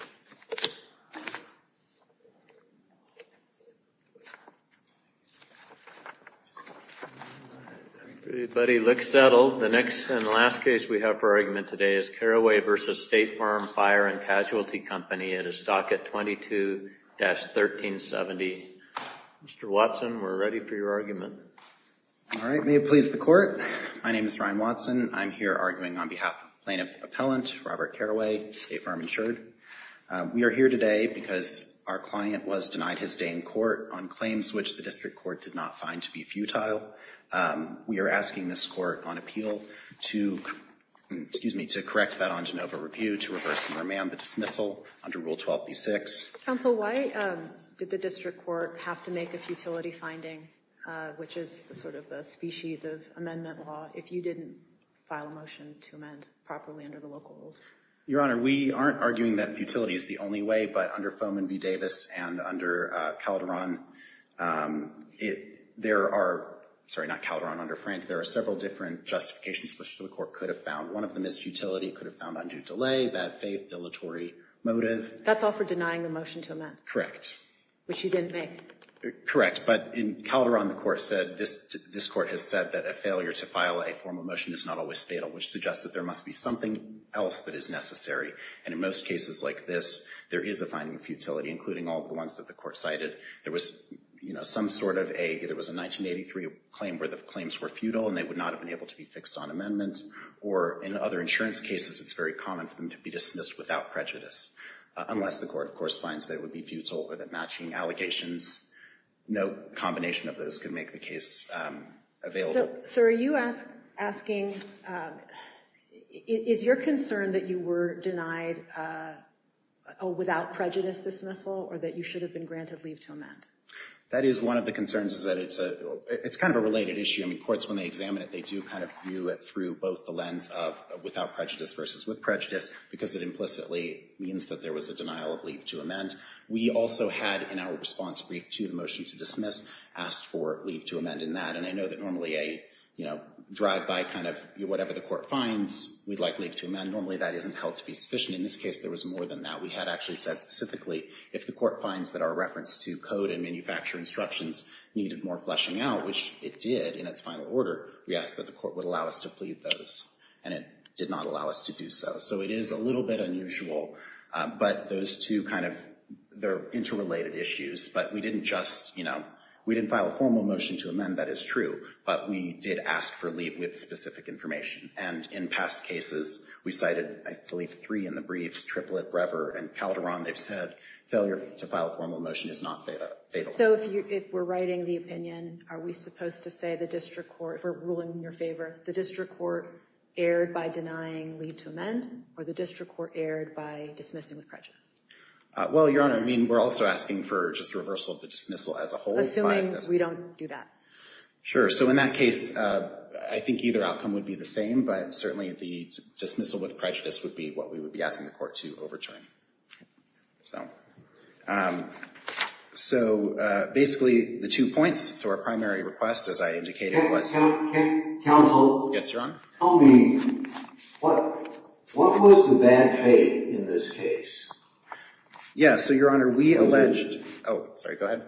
at a stock at 22-1370. Mr. Watson, we're ready for your argument. All right, may it please the court. My name is Ryan Watson. I'm here arguing on behalf of Plaintiff Appellant Robert Carraway, State Farm Insured. I'm here arguing on behalf of Plaintiff Appellant Robert Carraway. We are here today because our client was denied his stay in court on claims which the district court did not find to be futile. We are asking this court on appeal to, excuse me, to correct that on Genova Review to reverse and remand the dismissal under Rule 12b-6. Counsel, why did the district court have to make a futility finding, which is sort of the species of amendment law, if you didn't file a motion to amend properly under the local rules? Your Honor, we aren't arguing that futility is the only way, but under Foman v. Davis and under Calderon, there are, sorry, not Calderon under Frank, there are several different justifications which the court could have found. One of them is futility. It could have found undue delay, bad faith, dilatory motive. That's all for denying the motion to amend? Correct. Which you didn't make? Correct, but in Calderon the court said, this court has said that a failure to file a formal motion is not always necessary. It has to be something else that is necessary. And in most cases like this, there is a finding of futility, including all the ones that the court cited. There was some sort of a, it was a 1983 claim where the claims were futile and they would not have been able to be fixed on amendment. Or in other insurance cases, it's very common for them to be dismissed without prejudice, unless the court, of course, finds they would be futile or that matching allegations, no combination of those could make the case available. So are you asking, is your concern that you were denied a without prejudice dismissal or that you should have been granted leave to amend? That is one of the concerns is that it's a, it's kind of a related issue. I mean, courts when they examine it, they do kind of view it through both the lens of without prejudice versus with prejudice because it implicitly means that there was a denial of leave to amend. We also had in our response brief to the motion to dismiss, asked for leave to amend in that. And I know that normally a, you know, drive-by kind of whatever the court finds, we'd like leave to amend. Normally that isn't held to be sufficient. In this case, there was more than that. We had actually said specifically, if the court finds that our reference to code and manufacture instructions needed more fleshing out, which it did in its final order, we asked that the court would allow us to plead those and it did not allow us to do so. So it is a little bit unusual, but those two kind of, they're interrelated issues, but we didn't just, you know, we didn't file a formal motion to amend, that is true, but we did ask for leave with specific information. And in past cases, we cited, I believe three in the briefs, Triplett, Brever, and Calderon, they've said failure to file a formal motion is not faithful. So if you, if we're writing the opinion, are we supposed to say the district court, we're ruling in your favor, the district court erred by denying leave to amend or the district court erred by dismissing with prejudice? Well, Your Honor, I mean, we're also asking for just a reversal of the dismissal as a whole. Assuming we don't do that. Sure. So in that case, I think either outcome would be the same, but certainly the dismissal with prejudice would be what we would be asking the court to overturn. Okay. So, so basically the two points, so our primary request, as I indicated, was counsel. Yes, Your Honor. Tell me what, what was the bad faith in this case? Yeah, so Your Honor, we alleged, oh, sorry, go ahead.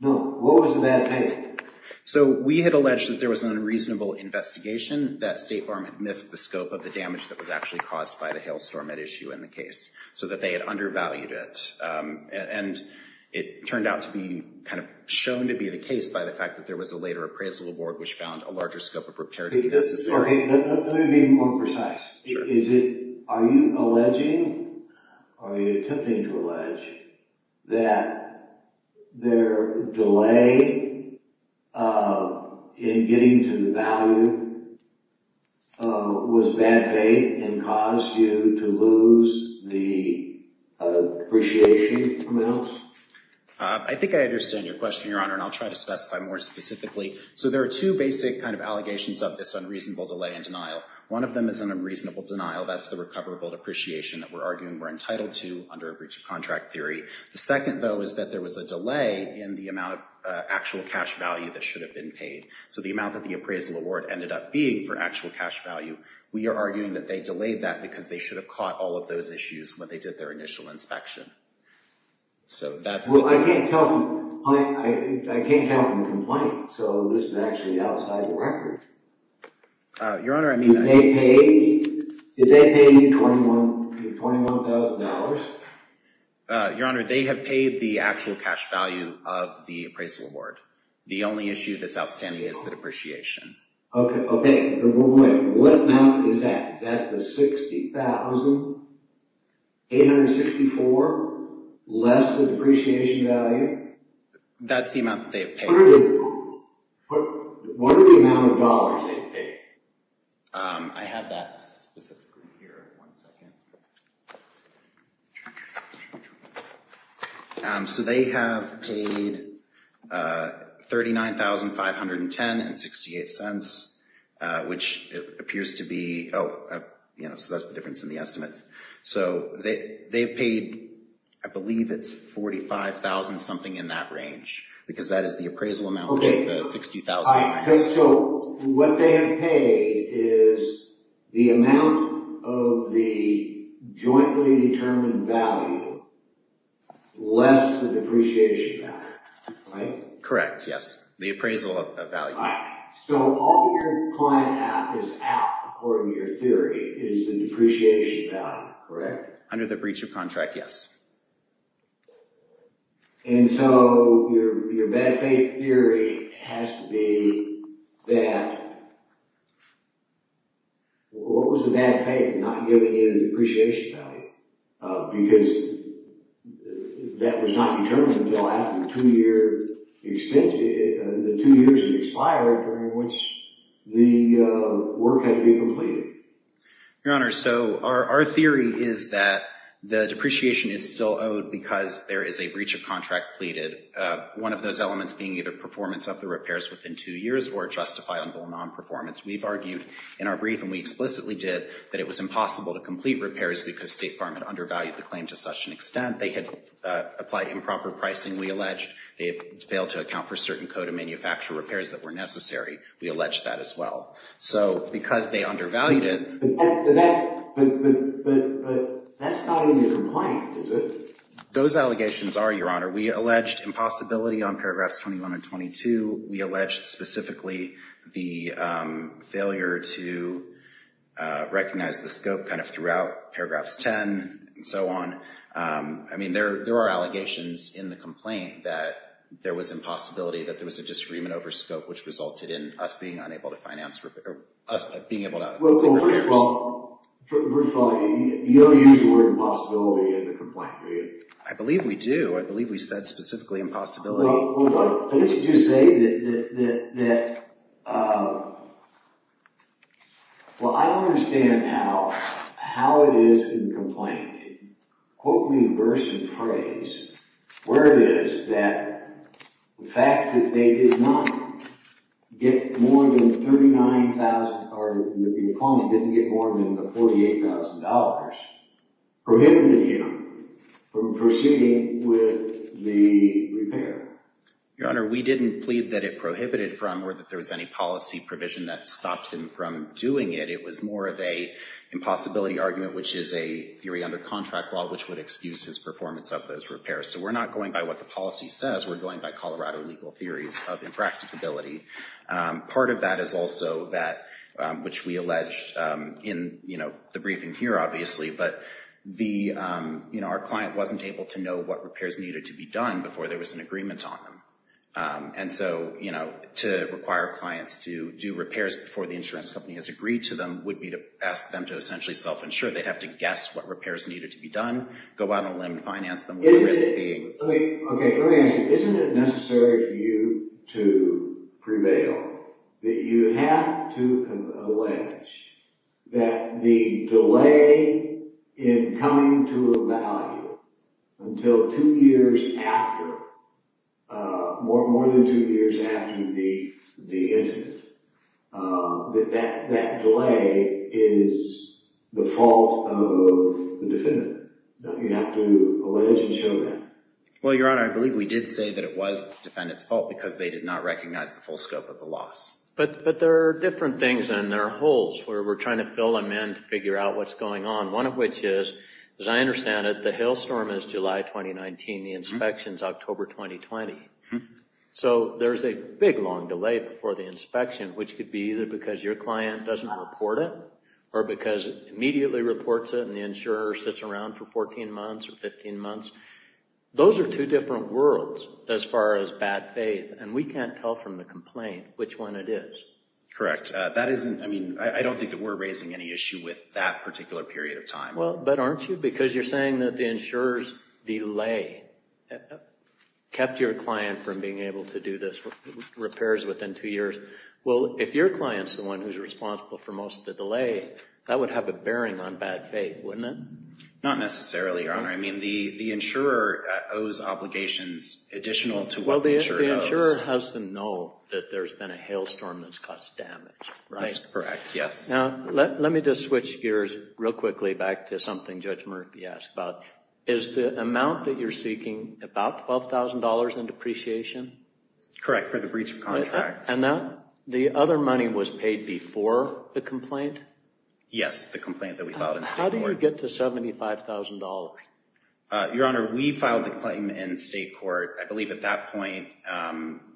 No, what was the bad faith? So we had alleged that there was an unreasonable investigation, that State Farm had missed the scope of the damage that was actually caused by the hailstorm at issue in the case, so that they had undervalued it. And it turned out to be kind of shown to be the case by the fact that there was a later appraisal award which found a larger scope of repair to be necessary. Let me be more precise. Sure. Is it, are you alleging or are you attempting to allege that their delay in getting to the value was bad faith and caused you to lose the appreciation from the else? I think I understand your question, Your Honor, and I'll try to specify more specifically. So there are two basic kind of allegations of this unreasonable delay and denial. One of them is an unreasonable denial, that's the recoverable depreciation that we're arguing we're entitled to under a breach of contract theory. The second, though, is that there was a delay in the amount of actual cash value that should have been paid. So the amount that the appraisal award ended up being for actual cash value. We are arguing that they delayed that because they should have caught all of those issues when they did their initial inspection. Well, I can't tell from complaint, so this is actually outside the record. Your Honor, I mean... Did they pay you $21,000? Your Honor, they have paid the actual cash value of the appraisal award. The only issue that's outstanding is the depreciation. Okay. What amount is that? Is that the $60,864 less the depreciation value? That's the amount that they have paid. What are the amount of dollars they have paid? I have that specifically here. One second. So they have paid $39,510.68, which appears to be... Oh, so that's the difference in the estimates. So they've paid, I believe it's $45,000-something in that range, because that is the appraisal amount, which is the $60,000. So what they have paid is the amount of the jointly determined value less the depreciation value, right? Correct, yes. The appraisal of value. So all your client app is out, according to your theory, is the depreciation value, correct? Under the breach of contract, yes. And so your bad faith theory has to be that... What was the bad faith in not giving you the depreciation value? Because that was not determined until after the two years had expired, during which the work had to be completed. Your Honor, so our theory is that the depreciation is still owed because there is a breach of contract pleaded, one of those elements being either performance of the repairs within two years or justifiable non-performance. We've argued in our brief, and we explicitly did, that it was impossible to complete repairs because State Farm had undervalued the claim to such an extent. They had applied improper pricing, we alleged. They had failed to account for certain code of manufacture repairs that were necessary. We allege that as well. So because they undervalued it... But that's not in the complaint, is it? Those allegations are, Your Honor. We alleged impossibility on paragraphs 21 and 22. We alleged specifically the failure to recognize the scope kind of throughout paragraphs 10 and so on. I mean, there are allegations in the complaint that there was impossibility, that there was a disagreement over scope, which resulted in us being unable to finance repairs. Well, first of all, you don't use the word impossibility in the complaint, do you? I believe we do. I believe we said specifically impossibility. I think you do say that... Well, I don't understand how it is in the complaint, quote in verse and phrase, where it is that the fact that they did not get more than $39,000, or the complaint didn't get more than the $48,000, prohibited him from proceeding with the repair. Your Honor, we didn't plead that it prohibited from or that there was any policy provision that stopped him from doing it. It was more of a impossibility argument, which is a theory under contract law, which would excuse his performance of those repairs. So we're not going by what the policy says. We're going by Colorado legal theories of impracticability. Part of that is also that which we alleged in, you know, the briefing here, obviously, but, you know, our client wasn't able to know what repairs needed to be done before there was an agreement on them. And so, you know, to require clients to do repairs before the insurance company has agreed to them would be to ask them to essentially self-insure. They'd have to guess what repairs needed to be done, go out on a limb and finance them... Let me ask you, isn't it necessary for you to prevail that you have to allege that the delay in coming to a value until two years after, more than two years after the incident, that that delay is the fault of the defendant? You have to allege and show that. Well, Your Honor, I believe we did say that it was the defendant's fault because they did not recognize the full scope of the loss. But there are different things and there are holes where we're trying to fill them in to figure out what's going on. One of which is, as I understand it, the hailstorm is July 2019, the inspection's October 2020. So there's a big, long delay before the inspection, which could be either because your client doesn't report it or because it immediately reports it and the insurer sits around for 14 months or 15 months. Those are two different worlds as far as bad faith, and we can't tell from the complaint which one it is. Correct. I don't think that we're raising any issue with that particular period of time. But aren't you? Because you're saying that the insurer's delay kept your client from being able to do those repairs within two years. Well, if your client's the one who's responsible for most of the delay, that would have a bearing on bad faith, wouldn't it? Not necessarily, Your Honor. I mean, the insurer owes obligations additional to what the insurer owes. The insurer has to know that there's been a hailstorm that's caused damage, right? That's correct, yes. Now, let me just switch gears real quickly back to something Judge Murphy asked about. Is the amount that you're seeking about $12,000 in depreciation? Correct, for the breach of contract. And the other money was paid before the complaint? Yes, the complaint that we filed in state court. How did you get to $75,000? Your Honor, we filed the claim in state court. I believe at that point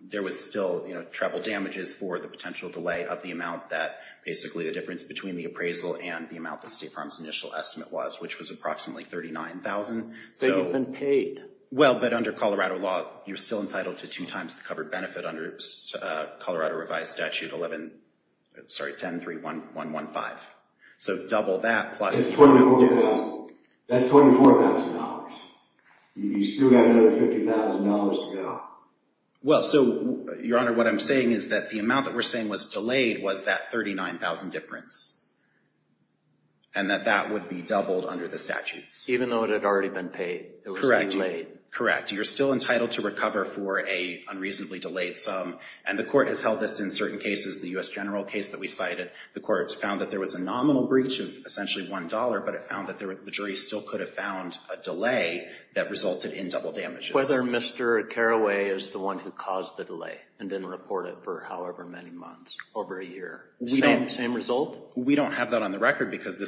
there was still, you know, treble damages for the potential delay of the amount that basically the difference between the appraisal and the amount that State Farm's initial estimate was, which was approximately $39,000. So you've been paid? Well, but under Colorado law, you're still entitled to two times the covered benefit under Colorado revised statute 11, sorry, 10.3.1.1.5. So double that plus $12,000. That's $24,000. You still have another $50,000 to go. Well, so, Your Honor, what I'm saying is that the amount that we're saying was delayed was that $39,000 difference and that that would be doubled under the statutes. Even though it had already been paid, it would be delayed? Correct, correct. You're still entitled to recover for a unreasonably delayed sum. And the court has held this in certain cases. The U.S. general case that we cited, the court found that there was a nominal breach of essentially $1, but it found that the jury still could have found a delay that resulted in double damages. Whether Mr. Carraway is the one who caused the delay and didn't report it for however many months, over a year. Same result? We don't have that on the record because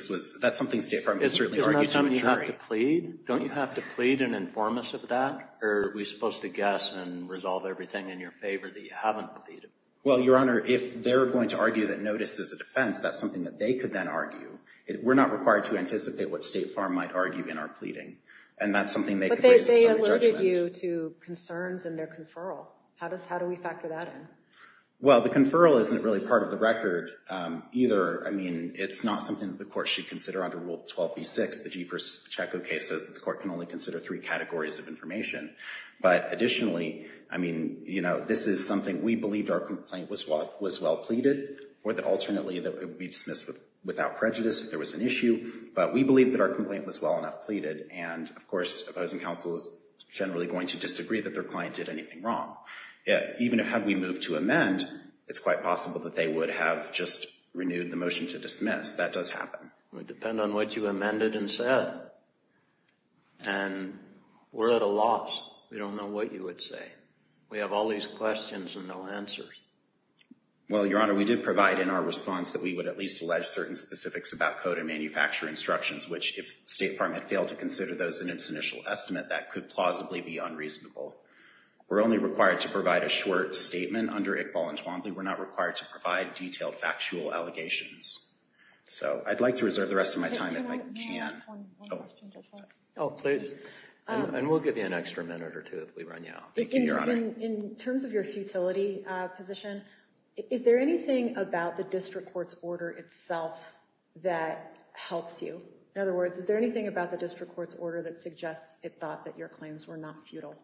that's something State Farm can certainly argue to a jury. Isn't that something you have to plead? Don't you have to plead and inform us of that? Or are we supposed to guess and resolve everything in your favor that you haven't pleaded? Well, Your Honor, if they're going to argue that notice is a defense, that's something that they could then argue. We're not required to anticipate what State Farm might argue in our pleading. And that's something they could raise in some judgment. But they alerted you to concerns in their conferral. How do we factor that in? Well, the conferral isn't really part of the record either. I mean, it's not something that the court should consider under Rule 12b-6, the G versus Pacheco case says that the court can only consider three categories of information. But additionally, I mean, you know, this is something we believed our complaint was well pleaded or that alternately it would be dismissed without prejudice if there was an issue. But we believe that our complaint was well enough pleaded. And, of course, opposing counsel is generally going to disagree that their client did anything wrong. Even had we moved to amend, it's quite possible that they would have just renewed the motion to dismiss. That does happen. It would depend on what you amended and said. And we're at a loss. We don't know what you would say. We have all these questions and no answers. Well, Your Honor, we did provide in our response that we would at least allege certain specifics about code and manufacture instructions, which if the State Department failed to consider those in its initial estimate, that could plausibly be unreasonable. We're only required to provide a short statement under Iqbal and Twombly. We're not required to provide detailed factual allegations. So I'd like to reserve the rest of my time if I can. Can I ask one question just one? Oh, please. And we'll give you an extra minute or two if we run you out. Thank you, Your Honor. Your Honor, in terms of your futility position, is there anything about the district court's order itself that helps you? In other words, is there anything about the district court's order that suggests it thought that your claims were not futile?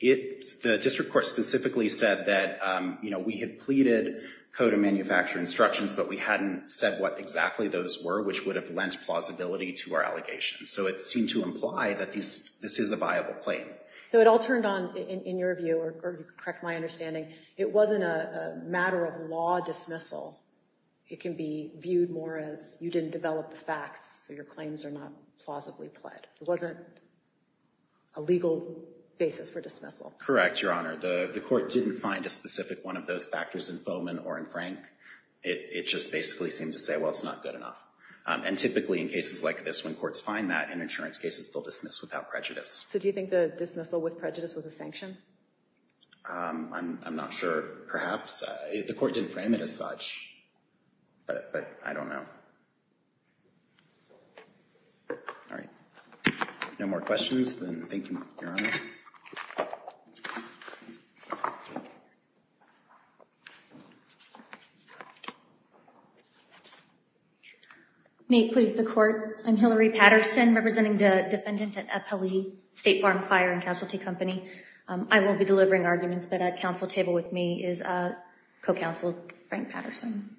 The district court specifically said that, you know, we had pleaded code and manufacture instructions, but we hadn't said what exactly those were, which would have lent plausibility to our allegations. So it seemed to imply that this is a viable claim. Okay. So it all turned on, in your view, or correct my understanding, it wasn't a matter of law dismissal. It can be viewed more as you didn't develop the facts, so your claims are not plausibly pled. It wasn't a legal basis for dismissal. Correct, Your Honor. The court didn't find a specific one of those factors in Foman or in Frank. It just basically seemed to say, well, it's not good enough. And typically in cases like this, when courts find that in insurance cases, they'll dismiss without prejudice. So do you think the dismissal with prejudice was a sanction? I'm not sure. Perhaps. The court didn't frame it as such. But I don't know. All right. No more questions? Thank you, Your Honor. Thank you, Your Honor. May it please the court. I'm Hillary Patterson, representing the defendant at Eppley State Farm Fire and Casualty Company. I won't be delivering arguments, but at council table with me is co-counsel Frank Patterson.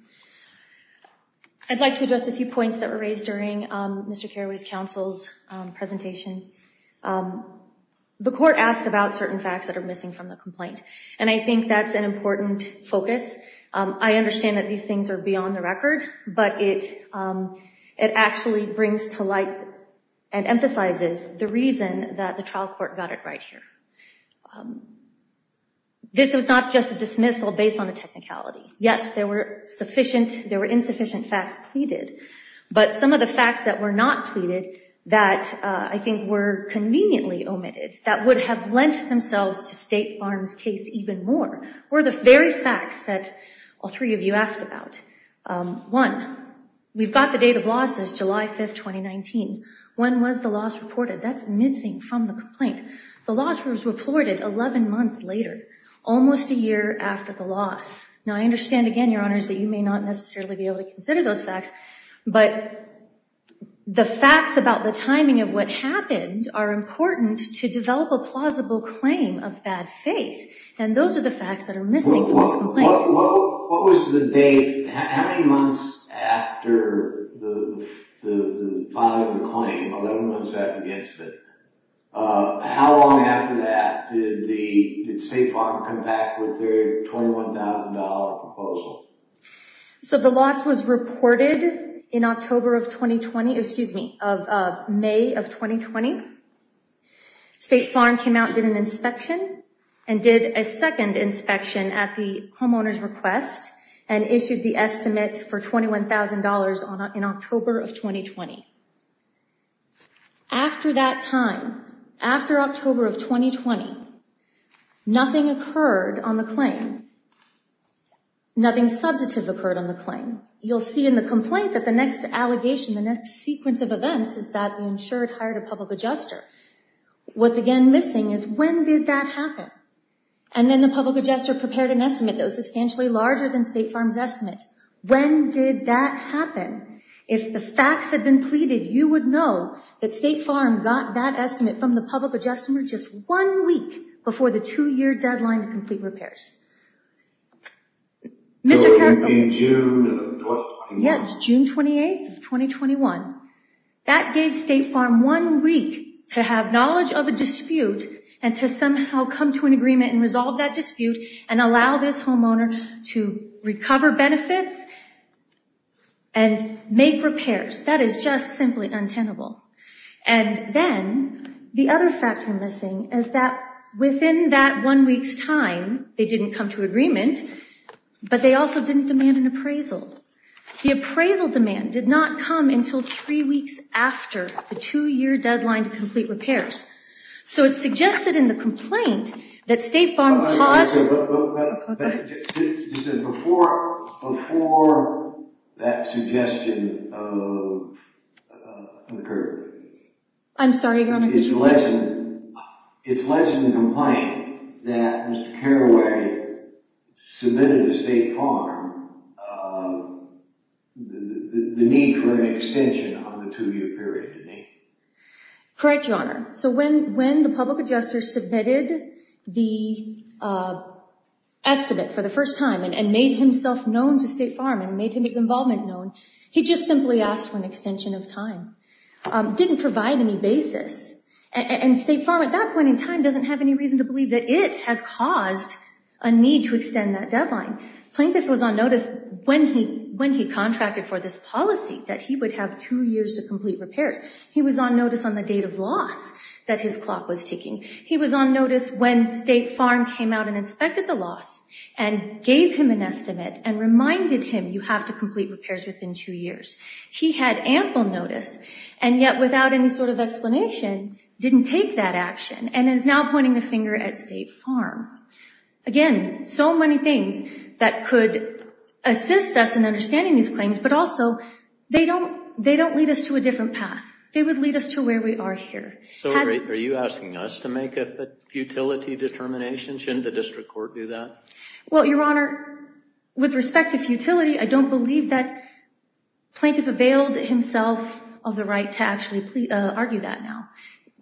I'd like to address a few points that were raised during Mr. Carraway's counsel's presentation. The court asked about certain facts that are missing from the complaint, and I think that's an important focus. I understand that these things are beyond the record, but it actually brings to light and emphasizes the reason that the trial court got it right here. This was not just a dismissal based on the technicality. Yes, there were insufficient facts pleaded, but some of the facts that were not pleaded that I think were conveniently omitted, that would have lent themselves to State Farm's case even more, were the very facts that all three of you asked about. One, we've got the date of losses, July 5th, 2019. When was the loss reported? That's missing from the complaint. The loss was reported 11 months later, almost a year after the loss. Now, I understand, again, Your Honors, that you may not necessarily be able to consider those facts, but the facts about the timing of what happened are important to develop a plausible claim of bad faith, and those are the facts that are missing from this complaint. What was the date, how many months after the filing of the claim, 11 months after the incident, how long after that did State Farm come back with their $21,000 proposal? So the loss was reported in October of 2020, excuse me, of May of 2020. State Farm came out and did an inspection, and did a second inspection at the homeowner's request, and issued the estimate for $21,000 in October of 2020. After that time, after October of 2020, nothing occurred on the claim. Nothing substantive occurred on the claim. You'll see in the complaint that the next allegation, the next sequence of events, is that the insured hired a public adjuster. What's, again, missing is when did that happen? And then the public adjuster prepared an estimate that was substantially larger than State Farm's estimate. When did that happen? If the facts had been pleaded, you would know that State Farm got that estimate from the public adjuster just one week before the two-year deadline to complete repairs. Could it be June of 2021? Yes, June 28th of 2021. That gave State Farm one week to have knowledge of a dispute, and to somehow come to an agreement and resolve that dispute, and allow this homeowner to recover benefits and make repairs. That is just simply untenable. And then the other factor missing is that within that one week's time, they didn't come to agreement, but they also didn't demand an appraisal. The appraisal demand did not come until three weeks after the two-year deadline to complete repairs. So it's suggested in the complaint that State Farm caused... Before that suggestion occurred... I'm sorry, Your Honor. It's alleged in the complaint that Mr. Carraway submitted to State Farm the need for an extension on the two-year period. Correct, Your Honor. So when the public adjuster submitted the estimate for the first time and made himself known to State Farm and made his involvement known, he just simply asked for an extension of time. Didn't provide any basis. And State Farm at that point in time doesn't have any reason to believe that it has caused a need to extend that deadline. Plaintiff was on notice when he contracted for this policy that he would have two years to complete repairs. He was on notice on the date of loss that his clock was ticking. He was on notice when State Farm came out and inspected the loss and gave him an estimate and reminded him you have to complete repairs within two years. He had ample notice, and yet without any sort of explanation, didn't take that action and is now pointing the finger at State Farm. Again, so many things that could assist us in understanding these claims, but also they don't lead us to a different path. They would lead us to where we are here. So are you asking us to make a futility determination? Shouldn't the district court do that? Well, Your Honor, with respect to futility, I don't believe that Plaintiff availed himself of the right to actually argue that now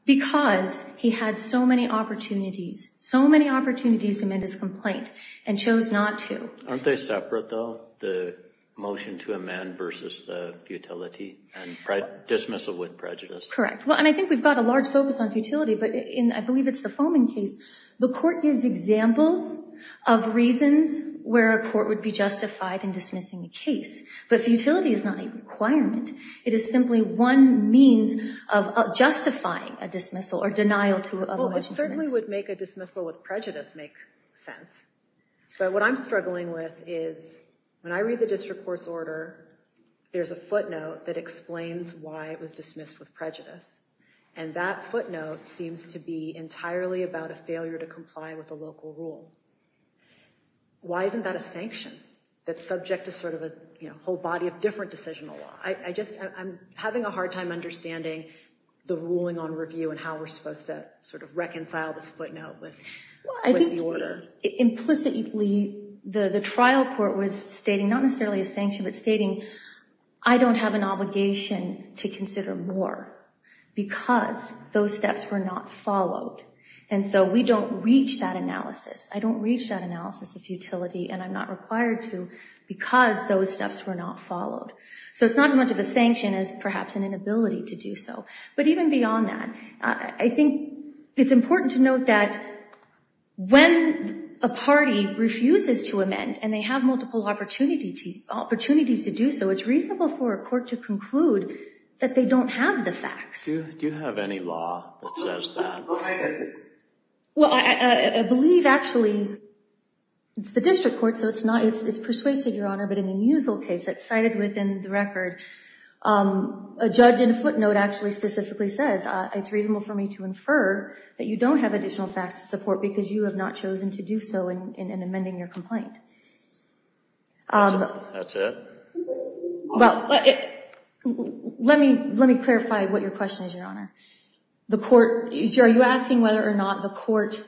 because he had so many opportunities, so many opportunities to amend his complaint and chose not to. Aren't they separate, though, the motion to amend versus the futility and dismissal with prejudice? Correct. Well, and I think we've got a large focus on futility, but I believe it's the Foman case. The court gives examples of reasons where a court would be justified in dismissing a case, but futility is not a requirement. It is simply one means of justifying a dismissal or denial of a motion to dismiss. Well, it certainly would make a dismissal with prejudice make sense. So what I'm struggling with is when I read the district court's order, there's a footnote that explains why it was dismissed with prejudice, and that footnote seems to be entirely about a failure to comply with a local rule. Why isn't that a sanction that's subject to sort of a whole body of different decisional law? I'm having a hard time understanding the ruling on review and how we're supposed to sort of reconcile this footnote with the order. Implicitly, the trial court was stating not necessarily a sanction, but stating I don't have an obligation to consider more because those steps were not followed. And so we don't reach that analysis. I don't reach that analysis of futility, and I'm not required to, because those steps were not followed. So it's not as much of a sanction as perhaps an inability to do so. But even beyond that, I think it's important to note that when a party refuses to amend and they have multiple opportunities to do so, it's reasonable for a court to conclude that they don't have the facts. Do you have any law that says that? Well, I believe actually it's the district court, so it's persuasive, Your Honor, but in the Musil case that's cited within the record, a judge in a footnote actually specifically says, it's reasonable for me to infer that you don't have additional facts to support because you have not chosen to do so in amending your complaint. That's it? Well, let me clarify what your question is, Your Honor. Are you asking whether or not the court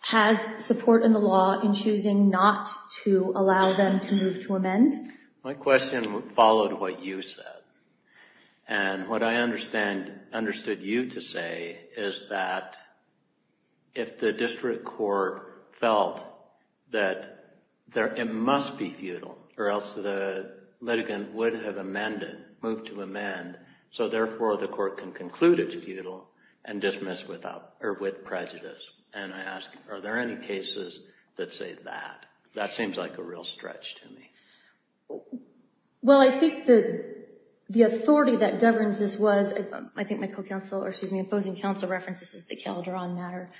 has support in the law in choosing not to allow them to move to amend? My question followed what you said, and what I understood you to say is that if the district court felt that it must be futile or else the litigant would have moved to amend, so therefore the court can conclude it's futile and dismiss with prejudice. And I ask, are there any cases that say that? That seems like a real stretch to me. Well, I think the authority that governs this was, I think my opposing counsel references the Caledron matter,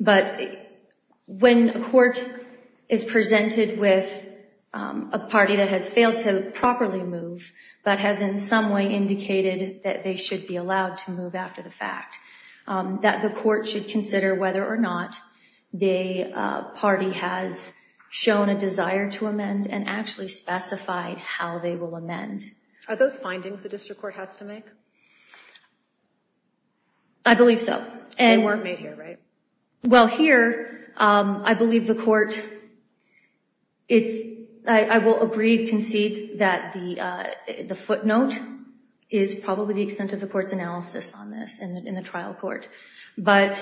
but when a court is presented with a party that has failed to properly move but has in some way indicated that they should be allowed to move after the fact, that the court should consider whether or not the party has shown a desire to amend and actually specified how they will amend. Are those findings the district court has to make? I believe so. They weren't made here, right? Well, here I believe the court, I will agree, concede that the footnote is probably the extent of the court's analysis on this in the trial court. But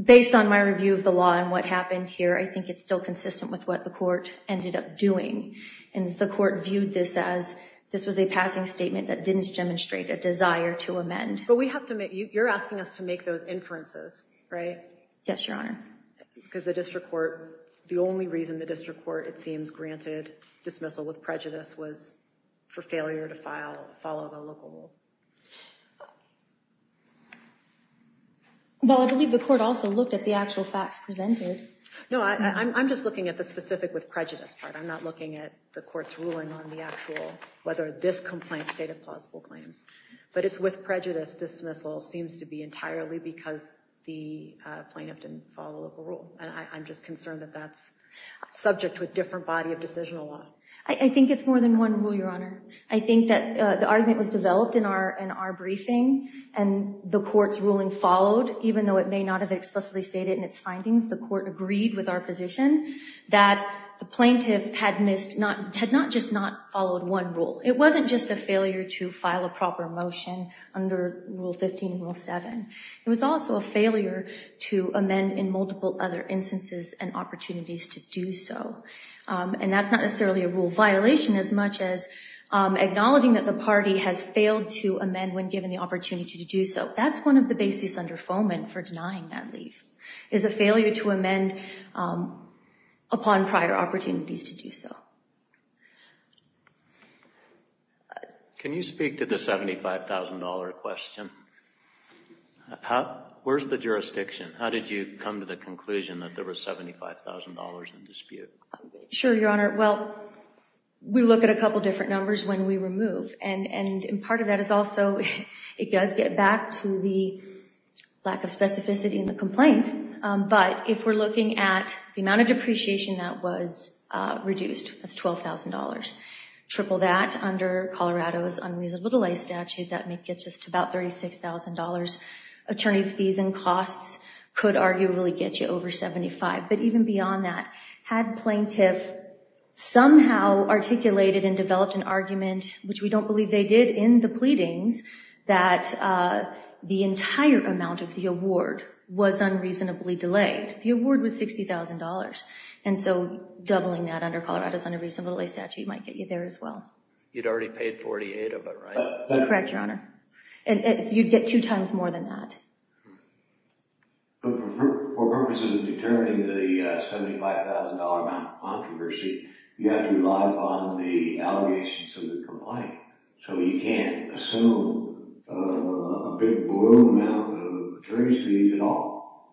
based on my review of the law and what happened here, I think it's still consistent with what the court ended up doing. And the court viewed this as, this was a passing statement that didn't demonstrate a desire to amend. But we have to make, you're asking us to make those inferences, right? Yes, Your Honor. Because the district court, the only reason the district court, it seems, granted dismissal with prejudice was for failure to follow the local rule. Well, I believe the court also looked at the actual facts presented. No, I'm just looking at the specific with prejudice part. I'm not looking at the court's ruling on the actual, whether this complaint stated plausible claims. But it's with prejudice dismissal seems to be entirely because the plaintiff didn't follow local rule. And I'm just concerned that that's subject to a different body of decision a lot. I think it's more than one rule, Your Honor. I think that the argument was developed in our briefing, and the court's ruling followed, even though it may not have explicitly stated in its findings, the court agreed with our position that the plaintiff had not just not followed one rule. It wasn't just a failure to file a proper motion under Rule 15 and Rule 7. It was also a failure to amend in multiple other instances and opportunities to do so. And that's not necessarily a rule violation, as much as acknowledging that the party has failed to amend when given the opportunity to do so. That's one of the basis under Foment for denying that leave, is a failure to amend upon prior opportunities to do so. Can you speak to the $75,000 question? Where's the jurisdiction? How did you come to the conclusion that there was $75,000 in dispute? Sure, Your Honor. Well, we look at a couple different numbers when we remove. And part of that is also, it does get back to the lack of specificity in the complaint. But if we're looking at the amount of depreciation that was reduced, that's $12,000. Triple that under Colorado's unreasonable delay statute, that gets us to about $36,000. Attorney's fees and costs could arguably get you over $75,000. But even beyond that, had plaintiff somehow articulated and developed an argument, which we don't believe they did, in the pleadings, that the entire amount of the award was unreasonably delayed. The award was $60,000. And so doubling that under Colorado's unreasonable delay statute might get you there as well. You'd already paid $48,000 of it, right? Correct, Your Honor. And you'd get two times more than that. For purposes of determining the $75,000 amount of controversy, you have to rely upon the allegations of the complaint. So you can't assume a big blow amount of attorney's fees at all.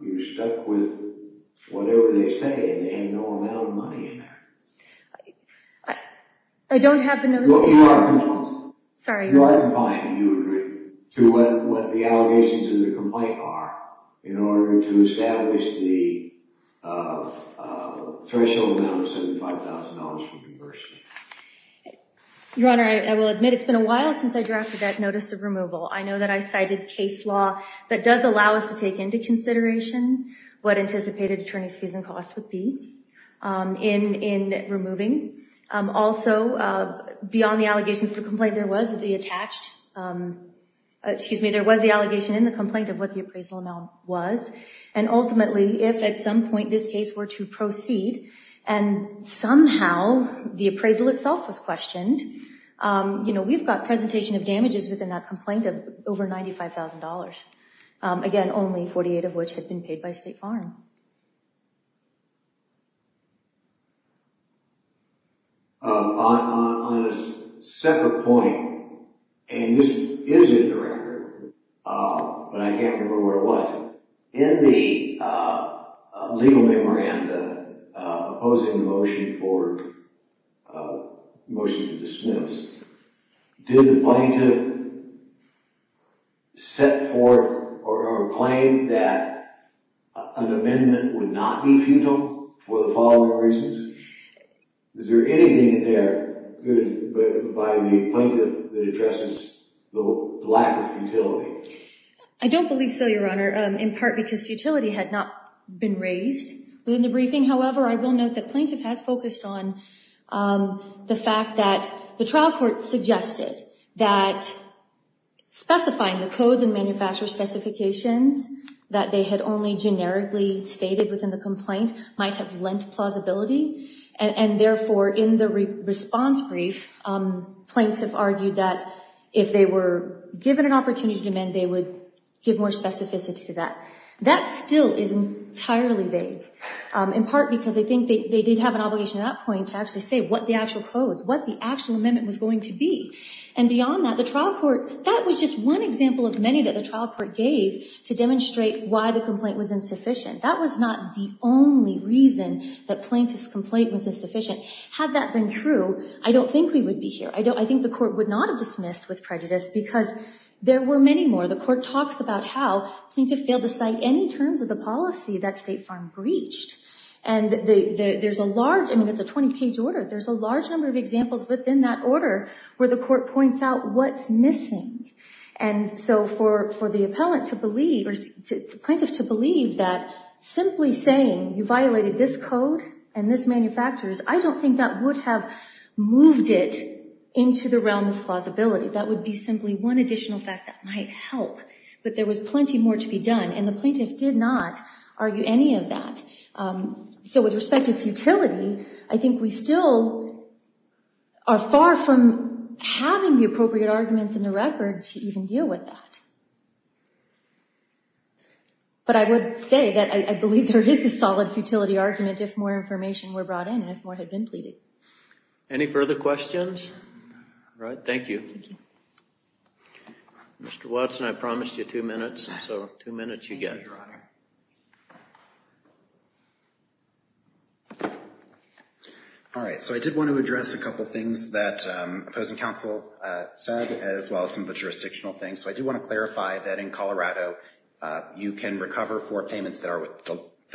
You're stuck with whatever they say, and they have no amount of money in there. I don't have the notice of removal. You are confined. Sorry, Your Honor. You are confined, and you agree, to what the allegations of the complaint are in order to establish the threshold amount of $75,000 for controversy. Your Honor, I will admit it's been a while since I drafted that notice of removal. I know that I cited case law that does allow us to take into consideration what anticipated attorney's fees and costs would be in removing. Also, beyond the allegations of the complaint, there was the attached excuse me, there was the allegation in the complaint of what the appraisal amount was. And ultimately, if at some point this case were to proceed, and somehow the appraisal itself was questioned, we've got presentation of damages within that complaint of over $95,000. Again, only 48 of which had been paid by State Farm. On a separate point, and this is in the record, but I can't remember where it was, in the legal memoranda opposing the motion to dismiss, did the plaintiff set forth or claim that an amendment would not be futile for the following reasons? Is there anything in there by the plaintiff that addresses the lack of futility? I don't believe so, Your Honor, in part because futility had not been raised within the briefing. However, I will note that plaintiff has focused on the fact that the trial court suggested that specifying the codes and manufacturer specifications that they had only generically stated within the complaint might have lent plausibility. And therefore, in the response brief, plaintiff argued that if they were given an opportunity to amend, they would give more specificity to that. That still is entirely vague, in part because I think they did have an obligation at that point to actually say what the actual codes, what the actual amendment was going to be. And beyond that, the trial court, that was just one example of many that the trial court gave to demonstrate why the complaint was insufficient. That was not the only reason that plaintiff's complaint was insufficient. Had that been true, I don't think we would be here. I think the court would not have dismissed with prejudice because there were many more. The court talks about how plaintiff failed to cite any terms of the policy that State Farm breached. And there's a large, I mean, it's a 20-page order. There's a large number of examples within that order where the court points out what's missing. And so for the plaintiff to believe that simply saying you violated this code and this manufacturer's, I don't think that would have moved it into the realm of plausibility. That would be simply one additional fact that might help. But there was plenty more to be done, and the plaintiff did not argue any of that. So with respect to futility, I think we still are far from having the appropriate arguments in the record to even deal with that. But I would say that I believe there is a solid futility argument if more information were brought in and if more had been pleaded. Any further questions? All right, thank you. Thank you. Mr. Watson, I promised you two minutes, so two minutes you get. Thank you, Your Honor. All right, so I did want to address a couple things that opposing counsel said as well as some of the jurisdictional things. So I do want to clarify that in Colorado, you can recover for payments that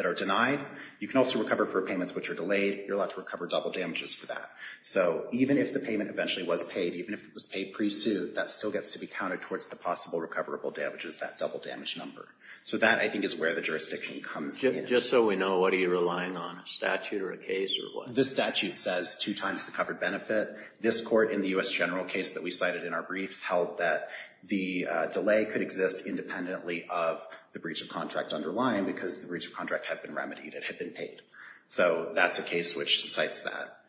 are denied. You can also recover for payments which are delayed. You're allowed to recover double damages for that. So even if the payment eventually was paid, even if it was paid pre-suit, that still gets to be counted towards the possible recoverable damages, that double damage number. So that, I think, is where the jurisdiction comes in. Just so we know, what are you relying on, a statute or a case or what? The statute says two times the covered benefit. The statute says that this court in the U.S. general case that we cited in our briefs held that the delay could exist independently of the breach of contract underlying because the breach of contract had been remedied. It had been paid. So that's a case which cites that.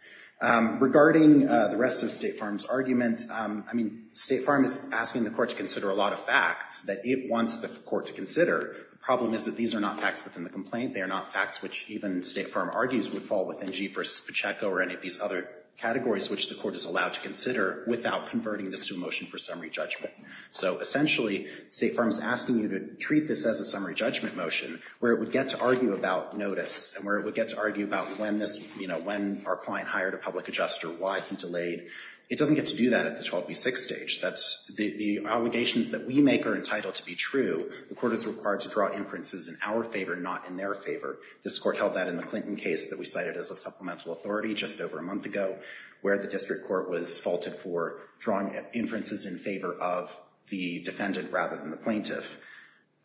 Regarding the rest of State Farm's argument, I mean, State Farm is asking the court to consider a lot of facts that it wants the court to consider. The problem is that these are not facts within the complaint. They are not facts which even State Farm argues would fall within G versus Pacheco or any of these other categories which the court is allowed to consider without converting this to a motion for summary judgment. So essentially, State Farm is asking you to treat this as a summary judgment motion where it would get to argue about notice and where it would get to argue about when this, you know, when our client hired a public adjuster, why he delayed. It doesn't get to do that at the 12B6 stage. That's the obligations that we make are entitled to be true. The court is required to draw inferences in our favor, not in their favor. This court held that in the Clinton case that we cited as a supplemental authority just over a month ago where the district court was faulted for drawing inferences in favor of the defendant rather than the plaintiff.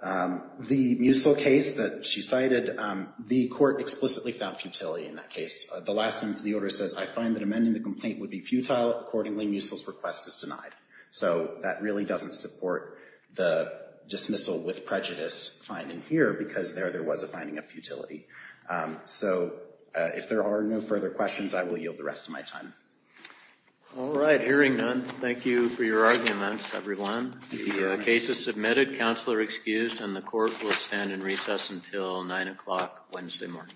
The Musil case that she cited, the court explicitly found futility in that case. The last sentence of the order says, I find that amending the complaint would be futile. Accordingly, Musil's request is denied. So that really doesn't support the dismissal with prejudice finding here because there was a finding of futility. So if there are no further questions, I will yield the rest of my time. All right. Hearing none, thank you for your arguments, everyone. The case is submitted. Counselor excused. And the court will stand in recess until 9 o'clock Wednesday morning.